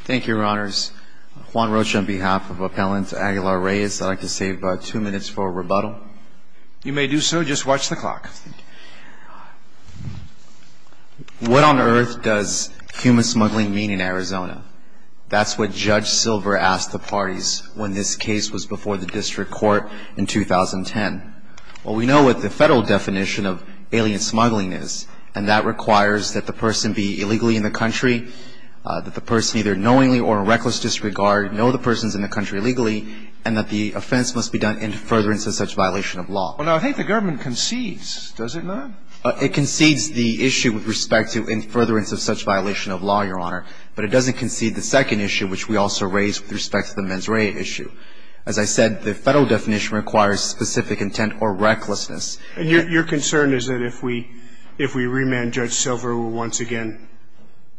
Thank you, your honors. Juan Rocha on behalf of Appellant Aguilar-Reyes, I'd like to save two minutes for a rebuttal. You may do so, just watch the clock. What on earth does human smuggling mean in Arizona? That's what Judge Silver asked the parties when this case was before the district court in 2010. Well, we know what the federal definition of alien smuggling is, and that requires that the person be illegally in the country, that the person either knowingly or in reckless disregard know the person is in the country illegally, and that the offense must be done in furtherance of such violation of law. Well, I think the government concedes, doesn't it? It concedes the issue with respect to in furtherance of such violation of law, your honor, but it doesn't concede the second issue, which we also raised with respect to the mens rea issue. As I said, the federal definition requires specific intent or recklessness. And your concern is that if we remand Judge Silver, we'll once again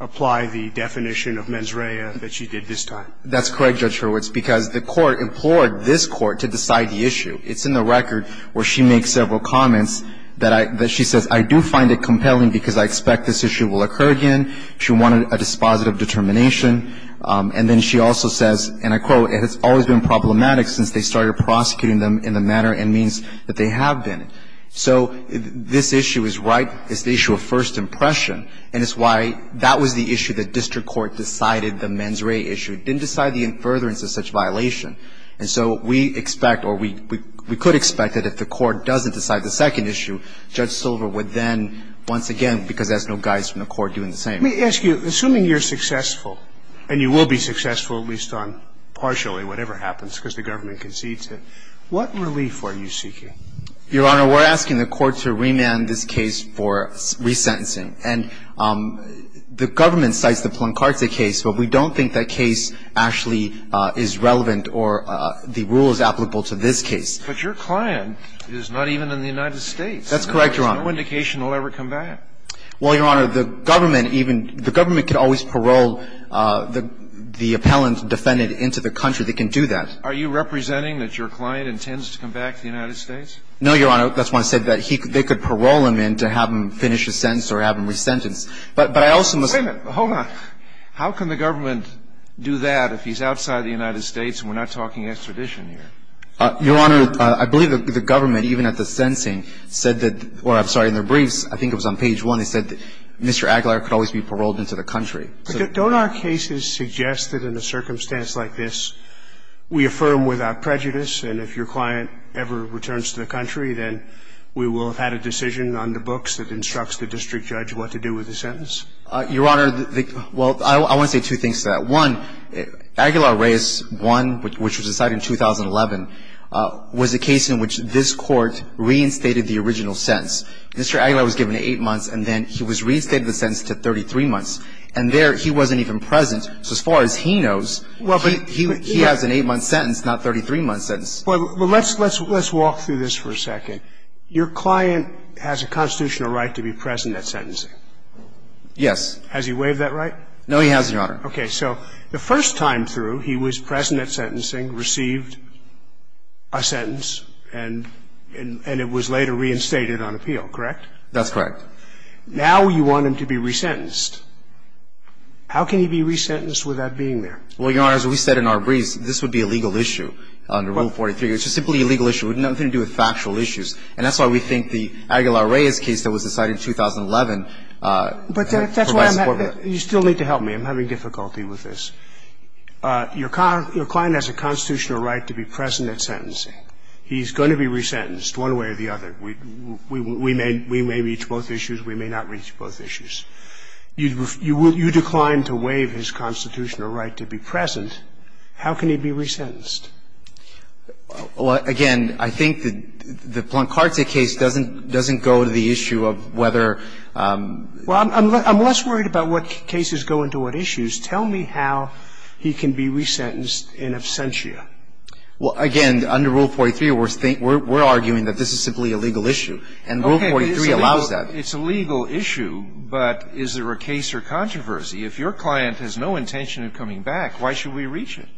apply the definition of mens rea that she did this time? That's correct, Judge Hurwitz, because the court implored this court to decide the issue. It's in the record where she makes several comments that she says, I do find it compelling because I expect this issue will occur again. She wanted a dispositive determination. And then she also says, and I quote, It has always been problematic since they started prosecuting them in the manner it means that they have been. So this issue is right. It's the issue of first impression. And it's why that was the issue that district court decided, the mens rea issue. It didn't decide the in furtherance of such violation. And so we expect or we could expect that if the court doesn't decide the second issue, Judge Silver would then once again, because that's no guidance from the court, do the same. Let me ask you, assuming you're successful and you will be successful at least on partially whatever happens because the government concedes it, what relief are you seeking? Your Honor, we're asking the court to remand this case for resentencing. And the government cites the Plancarte case, but we don't think that case actually is relevant or the rule is applicable to this case. But your client is not even in the United States. That's correct, Your Honor. There's no indication he'll ever come back. Well, Your Honor, the government even, the government can always parole the appellant defendant into the country. They can do that. Are you representing that your client intends to come back to the United States? No, Your Honor. That's why I said that they could parole him in to have him finish his sentence or have him resentenced. But I also must say. Wait a minute. Hold on. How can the government do that if he's outside the United States and we're not talking extradition here? Your Honor, I believe the government, even at the sentencing, said that, or I'm sorry, in their briefs, I think it was on page 1, they said Mr. Aguilar could always be paroled into the country. But don't our cases suggest that in a circumstance like this, we affirm without prejudice and if your client ever returns to the country, then we will have had a decision on the books that instructs the district judge what to do with the sentence? Your Honor, well, I want to say two things to that. One, Aguilar Reyes 1, which was decided in 2011, was a case in which this Court reinstated the original sentence. Mr. Aguilar was given eight months and then he was reinstated the sentence to 33 months. And there he wasn't even present. So as far as he knows, he has an eight-month sentence, not a 33-month sentence. Well, let's walk through this for a second. Your client has a constitutional right to be present at sentencing. Yes. Has he waived that right? No, he hasn't, Your Honor. Okay. So the first time through, he was present at sentencing, received a sentence, and it was later reinstated on appeal, correct? That's correct. Now you want him to be resentenced. How can he be resentenced without being there? Well, Your Honor, as we said in our briefs, this would be a legal issue under Rule 43. It's just simply a legal issue. It had nothing to do with factual issues. And that's why we think the Aguilar Reyes case that was decided in 2011 provides support for that. But that's why I'm having to – you still need to help me. I'm having difficulty with this. Your client has a constitutional right to be present at sentencing. He's going to be resentenced one way or the other. We may reach both issues. We may not reach both issues. You declined to waive his constitutional right to be present. How can he be resentenced? Well, again, I think the Plancarte case doesn't go to the issue of whether – Well, I'm less worried about what cases go into what issues. Tell me how he can be resentenced in absentia. Well, again, under Rule 43, we're arguing that this is simply a legal issue. And Rule 43 allows that. Okay. It's a legal issue, but is there a case or controversy? If your client has no intention of coming back, why should we reach it?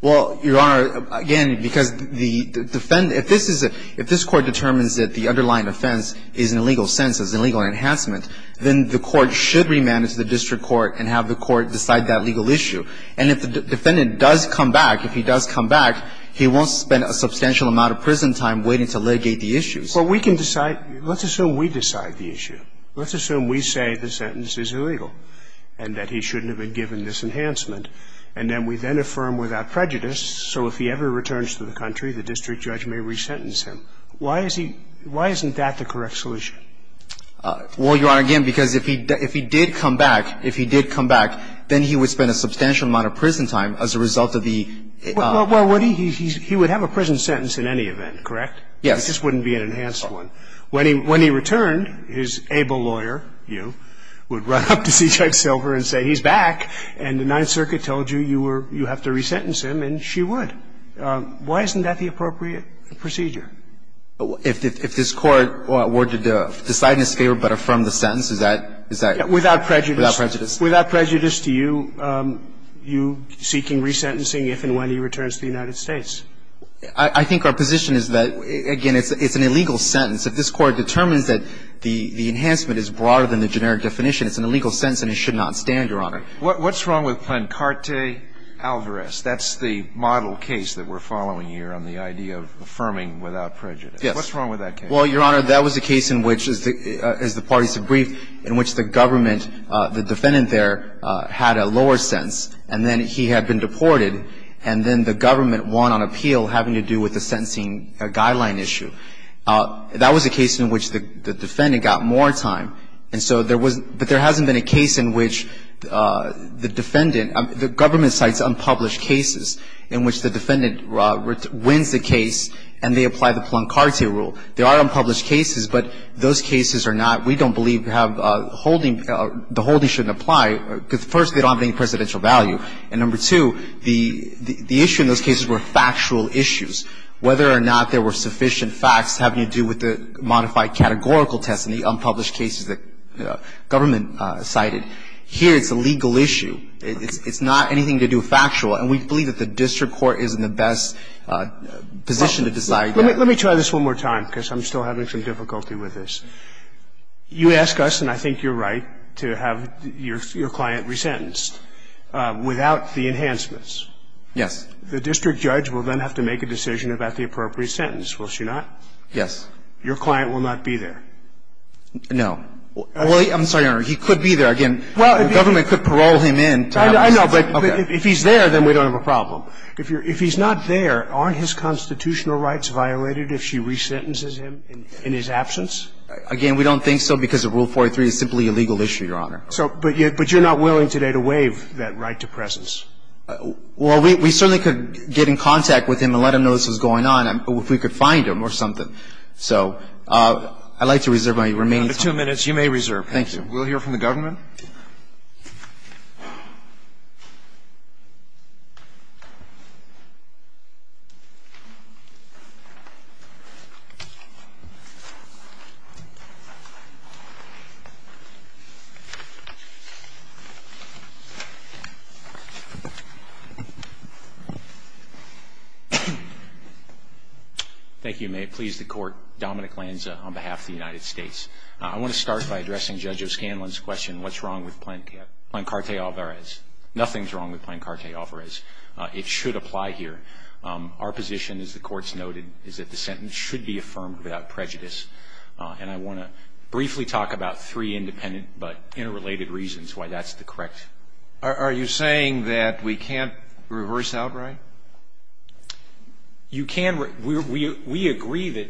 Well, Your Honor, again, because the defendant – if this is a – if this Court determines that the underlying offense is in a legal sense, is an illegal enhancement, then the Court should remand it to the district court and have the court decide that legal issue. And if the defendant does come back, if he does come back, he won't spend a substantial amount of prison time waiting to litigate the issue. Well, we can decide – let's assume we decide the issue. Let's assume we say the sentence is illegal and that he shouldn't have been given this enhancement. And then we then affirm without prejudice, so if he ever returns to the country, the district judge may resentence him. Why is he – why isn't that the correct solution? Well, Your Honor, again, because if he – if he did come back, if he did come back, then he would spend a substantial amount of prison time as a result of the – Well, what he – he would have a prison sentence in any event, correct? Yes. It just wouldn't be an enhanced one. When he – when he returned, his able lawyer, you, would run up to C.J. Silver and say, he's back, and the Ninth Circuit told you you were – you have to resentence him, and she would. Why isn't that the appropriate procedure? If this Court were to decide in his favor but affirm the sentence, is that – is that Without prejudice. Without prejudice to you, you seeking resentencing if and when he returns to the United States? I think our position is that, again, it's an illegal sentence. If this Court determines that the enhancement is broader than the generic definition, it's an illegal sentence and it should not stand, Your Honor. What's wrong with Plen carte alvarez? That's the model case that we're following here on the idea of affirming without prejudice. Yes. What's wrong with that case? Well, Your Honor, that was a case in which, as the parties have briefed, in which the government – the defendant there had a lower sentence, and then he had been deported, and then the government won on appeal having to do with the sentencing guideline issue. That was a case in which the defendant got more time, and so there was – but there hasn't been a case in which the defendant – the government cites unpublished cases in which the defendant wins the case and they apply the Plen carte rule. There are unpublished cases, but those cases are not – we don't believe have anything to do with the fact that the holding – the holding shouldn't apply. First, they don't have any precedential value. And number two, the issue in those cases were factual issues. Whether or not there were sufficient facts having to do with the modified categorical tests and the unpublished cases that government cited, here it's a legal issue. It's not anything to do with factual. And we believe that the district court is in the best position to decide that. Let me try this one more time, because I'm still having some difficulty with this. You ask us, and I think you're right, to have your client resentenced without the enhancements. Yes. The district judge will then have to make a decision about the appropriate sentence, will she not? Yes. Your client will not be there. No. Well, I'm sorry, Your Honor. He could be there. Again, the government could parole him in to have a sentence. I know, but if he's there, then we don't have a problem. If he's not there, aren't his constitutional rights violated if she resentences him in his absence? Again, we don't think so, because Rule 43 is simply a legal issue, Your Honor. So, but you're not willing today to waive that right to presence. Well, we certainly could get in contact with him and let him know this was going on, if we could find him or something. So I'd like to reserve my remaining time. You have two minutes. You may reserve. Thank you. We'll hear from the government. Your Honor. Thank you. May it please the Court, Dominic Lanza on behalf of the United States. I want to start by addressing Judge O'Scanlan's question, what's wrong with Plancarte Alvarez? Nothing's wrong with Plancarte Alvarez. It should apply here. Our position, as the Court's noted, is that the sentence should be affirmed without prejudice. And I want to briefly talk about three independent but interrelated reasons why that's the correct. Are you saying that we can't reverse outright? You can. We agree that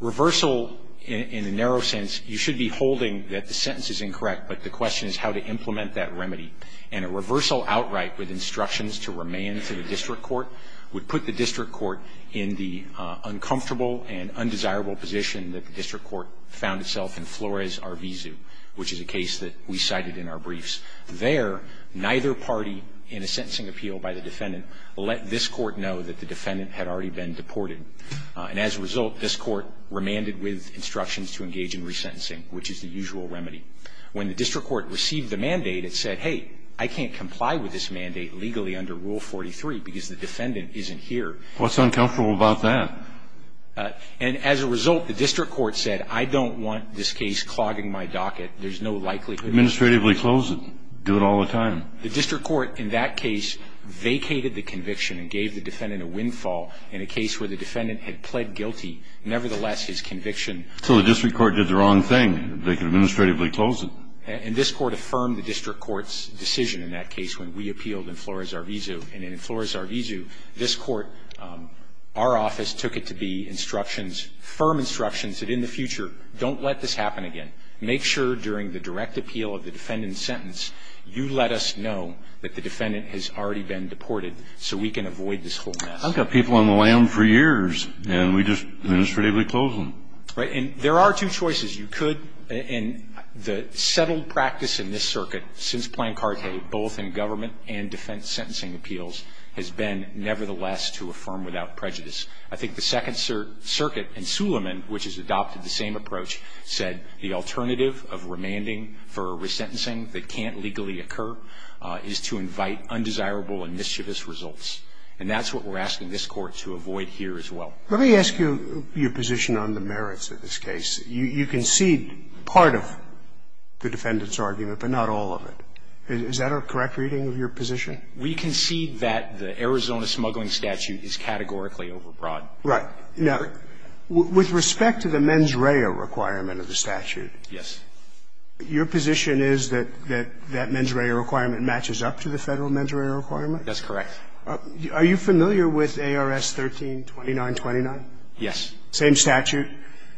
reversal, in a narrow sense, you should be holding that the sentence is incorrect, but the question is how to implement that remedy. And a reversal outright with instructions to remand to the district court would put the district court in the uncomfortable and undesirable position that the district court found itself in Flores v. Arvizu, which is a case that we cited in our briefs. And so there, neither party in a sentencing appeal by the defendant let this court know that the defendant had already been deported. And as a result, this court remanded with instructions to engage in resentencing, which is the usual remedy. When the district court received the mandate, it said, hey, I can't comply with this mandate legally under Rule 43 because the defendant isn't here. What's uncomfortable about that? And as a result, the district court said, I don't want this case clogging my docket. There's no likelihood. Administratively close it. Do it all the time. The district court in that case vacated the conviction and gave the defendant a windfall in a case where the defendant had pled guilty. Nevertheless, his conviction. So the district court did the wrong thing. They could administratively close it. And this Court affirmed the district court's decision in that case when we appealed in Flores v. Arvizu. And in Flores v. Arvizu, this Court, our office took it to be instructions, firm instructions that in the future, don't let this happen again. Make sure during the direct appeal of the defendant's sentence, you let us know that the defendant has already been deported so we can avoid this whole mess. I've got people on the lam for years, and we just administratively close them. Right. And there are two choices. You could – and the settled practice in this circuit since Plancarte, both in government and defense sentencing appeals, has been nevertheless to affirm without prejudice. I think the Second Circuit and Suleiman, which has adopted the same approach, said the alternative of remanding for a resentencing that can't legally occur is to invite undesirable and mischievous results. And that's what we're asking this Court to avoid here as well. Let me ask you your position on the merits of this case. You concede part of the defendant's argument, but not all of it. Is that a correct reading of your position? We concede that the Arizona smuggling statute is categorically overbroad. Right. Now, with respect to the mens rea requirement of the statute. Yes. Your position is that that mens rea requirement matches up to the Federal mens rea requirement? That's correct. Are you familiar with ARS 13-2929? Yes. Same statute,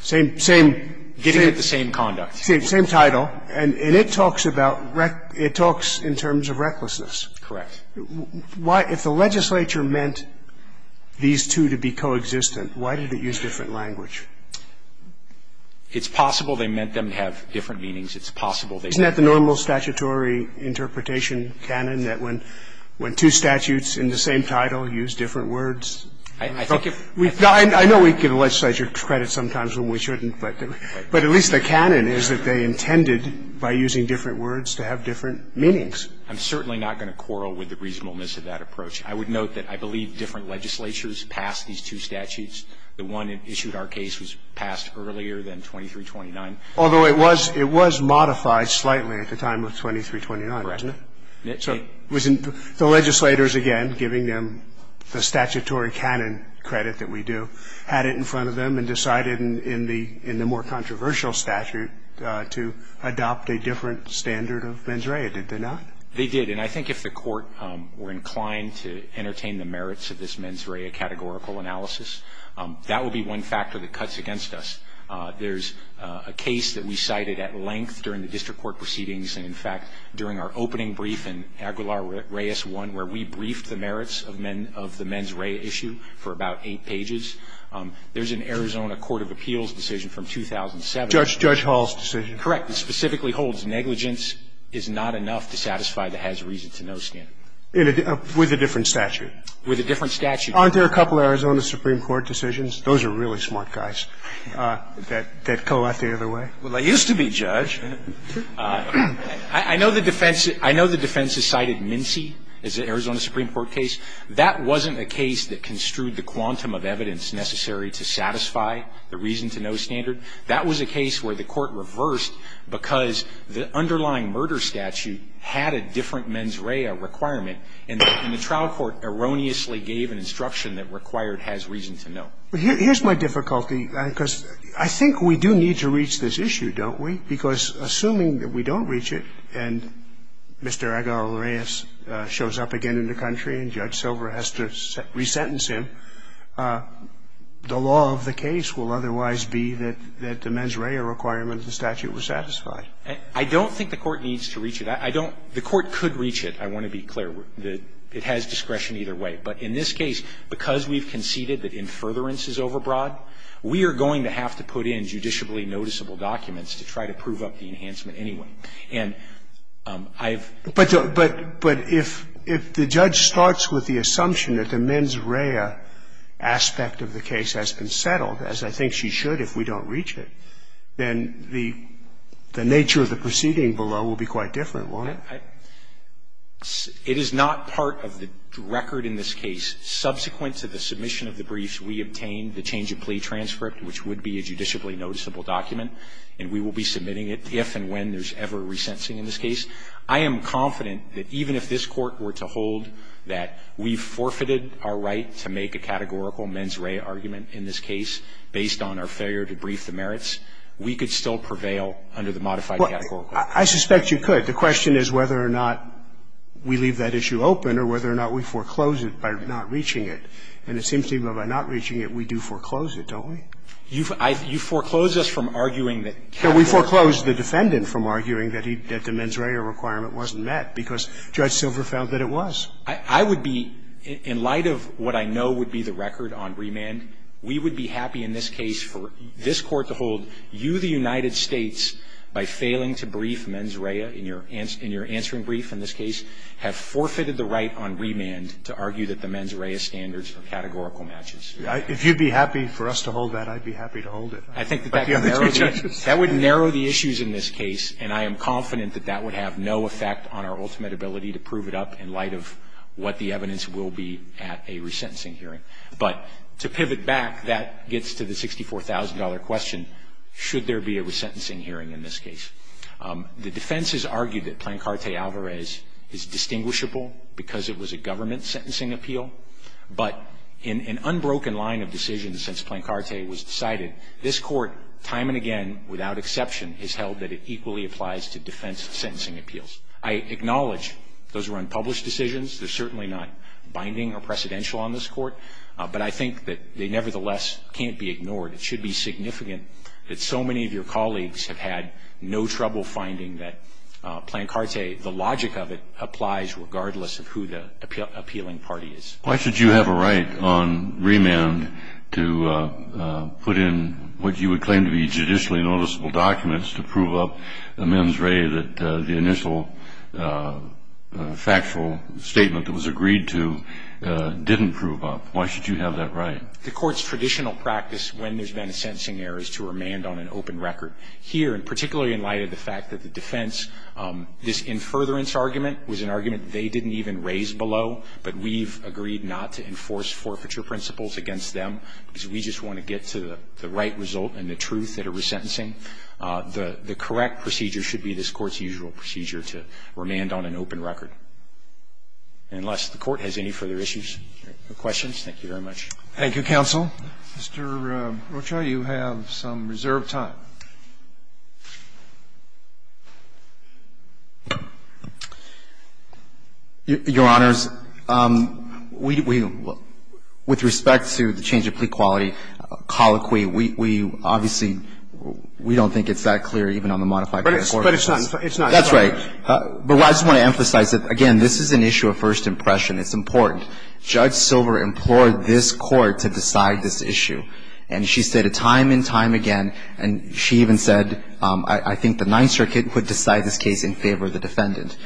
same – same – Giving it the same conduct. Same title. And it talks about – it talks in terms of recklessness. Correct. Why – if the legislature meant these two to be coexistent, why did it use different language? It's possible they meant them to have different meanings. It's possible they meant them to have different meanings. Isn't that the normal statutory interpretation, canon, that when two statutes in the same title use different words? I think if – I know we give the legislature credit sometimes when we shouldn't, but at least the canon is that they intended, by using different words, to have different meanings. I'm certainly not going to quarrel with the reasonableness of that approach. I would note that I believe different legislatures passed these two statutes. The one that issued our case was passed earlier than 2329. Although it was – it was modified slightly at the time of 2329, wasn't it? Correct. The legislators, again, giving them the statutory canon credit that we do, had it in front of them and decided in the more controversial statute to adopt a different standard of mens rea. Did they not? They did. And I think if the Court were inclined to entertain the merits of this mens rea categorical analysis, that would be one factor that cuts against us. There's a case that we cited at length during the district court proceedings and, in fact, during our opening brief in Aguilar Reyes I, where we briefed the merits of the mens rea issue for about eight pages. There's an Arizona court of appeals decision from 2007. Judge Hall's decision? Correct. The Arizona court of appeals decision, I think, is a case where the reason to know standard that specifically holds negligence is not enough to satisfy the has reason to know standard. With a different statute. With a different statute. Aren't there a couple of Arizona supreme court decisions? Those are really smart guys that go out the other way. Well, they used to be, Judge. I know the defense – I know the defense has cited Mincey as an Arizona supreme court case. That wasn't a case that construed the quantum of evidence necessary to satisfy the reason to know standard. That was a case where the court reversed because the underlying murder statute had a different mens rea requirement, and the trial court erroneously gave an instruction that required has reason to know. Here's my difficulty, because I think we do need to reach this issue, don't we? Because assuming that we don't reach it and Mr. Aguilar Reyes shows up again in the case and Mr. Silver has to resentence him, the law of the case will otherwise be that the mens rea requirement of the statute was satisfied. I don't think the court needs to reach it. I don't – the court could reach it, I want to be clear. It has discretion either way. But in this case, because we've conceded that in furtherance is overbroad, we are going to have to put in judicially noticeable documents to try to prove up the enhancement anyway. And I've – But if the judge starts with the assumption that the mens rea aspect of the case has been settled, as I think she should if we don't reach it, then the nature of the proceeding below will be quite different, won't it? It is not part of the record in this case. Subsequent to the submission of the briefs, we obtained the change of plea transcript, which would be a judicially noticeable document, and we will be submitting it if and when there's ever a resentencing in this case. I am confident that even if this Court were to hold that we forfeited our right to make a categorical mens rea argument in this case based on our failure to brief the merits, we could still prevail under the modified categorical. I suspect you could. The question is whether or not we leave that issue open or whether or not we foreclose it by not reaching it. And it seems to me that by not reaching it, we do foreclose it, don't we? You've – you've foreclosed us from arguing that categorically. No, we foreclosed the defendant from arguing that he – that the mens rea requirement wasn't met, because Judge Silver found that it was. I would be – in light of what I know would be the record on remand, we would be happy in this case for this Court to hold you, the United States, by failing to brief mens rea in your – in your answering brief in this case, have forfeited the right on remand to argue that the mens rea standards are categorical matches. If you'd be happy for us to hold that, I'd be happy to hold it. I think that that would narrow the issues in this case, and I am confident that that would have no effect on our ultimate ability to prove it up in light of what the evidence will be at a resentencing hearing. But to pivot back, that gets to the $64,000 question, should there be a resentencing hearing in this case? The defense has argued that Plancarte Alvarez is distinguishable because it was a government sentencing appeal, but in an unbroken line of decisions since Plancarte was decided, this Court, time and again, without exception, has held that it equally applies to defense sentencing appeals. I acknowledge those were unpublished decisions. They're certainly not binding or precedential on this Court, but I think that they nevertheless can't be ignored. It should be significant that so many of your colleagues have had no trouble finding that Plancarte, the logic of it, applies regardless of who the appealing party is. Why should you have a right on remand to put in what you would claim to be judicially noticeable documents to prove up a mens re that the initial factual statement that was agreed to didn't prove up? Why should you have that right? The Court's traditional practice when there's been a sentencing error is to remand on an open record. Here, and particularly in light of the fact that the defense, this in furtherance was an argument they didn't even raise below, but we've agreed not to enforce forfeiture principles against them because we just want to get to the right result and the truth that a resentencing, the correct procedure should be this Court's usual procedure to remand on an open record. Unless the Court has any further issues or questions, thank you very much. Thank you, counsel. Mr. Rocha, you have some reserved time. Your Honors, we, with respect to the change of plea quality colloquy, we obviously we don't think it's that clear even on the modified court. But it's not, it's not. That's right. But I just want to emphasize that, again, this is an issue of first impression. It's important. Judge Silver implored this Court to decide this issue, and she said it time and time again, and she said it again and again. She even said, I think the Ninth Circuit would decide this case in favor of the defendant.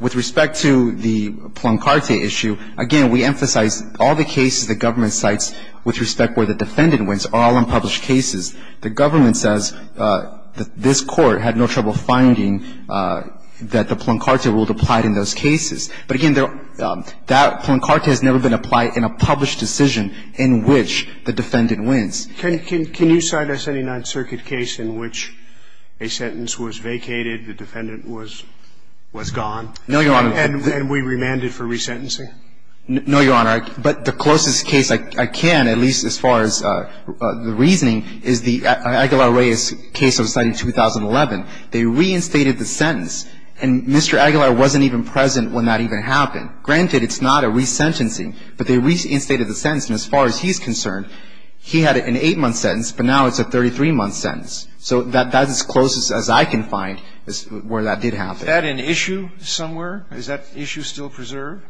With respect to the Plunkarte issue, again, we emphasize all the cases the government cites with respect where the defendant wins are all unpublished cases. The government says that this Court had no trouble finding that the Plunkarte rule applied in those cases. But again, that Plunkarte has never been applied in a published decision in which the defendant wins. Can you cite a 79th Circuit case in which a sentence was vacated, the defendant was gone? No, Your Honor. And we remanded for resentencing? No, Your Honor. But the closest case I can, at least as far as the reasoning, is the Aguilar-Reyes case I was citing in 2011. They reinstated the sentence, and Mr. Aguilar wasn't even present when that even happened. Granted, it's not a resentencing, but they reinstated the sentence. And as far as he's concerned, he had an 8-month sentence, but now it's a 33-month sentence. So that's as close as I can find where that did happen. Is that an issue somewhere? Is that issue still preserved?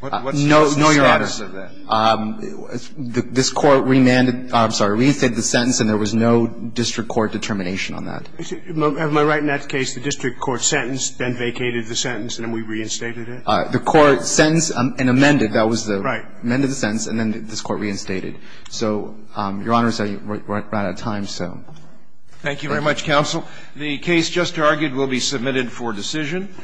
No, Your Honor. What's the status of that? This Court remanded the sentence, and there was no district court determination on that. Am I right in that case, the district court sentenced, then vacated the sentence, and then we reinstated it? The Court sentenced and amended. That was the sentence. And then this Court reinstated. So, Your Honor, as I ran out of time, so. Thank you very much, counsel. The case just argued will be submitted for decision.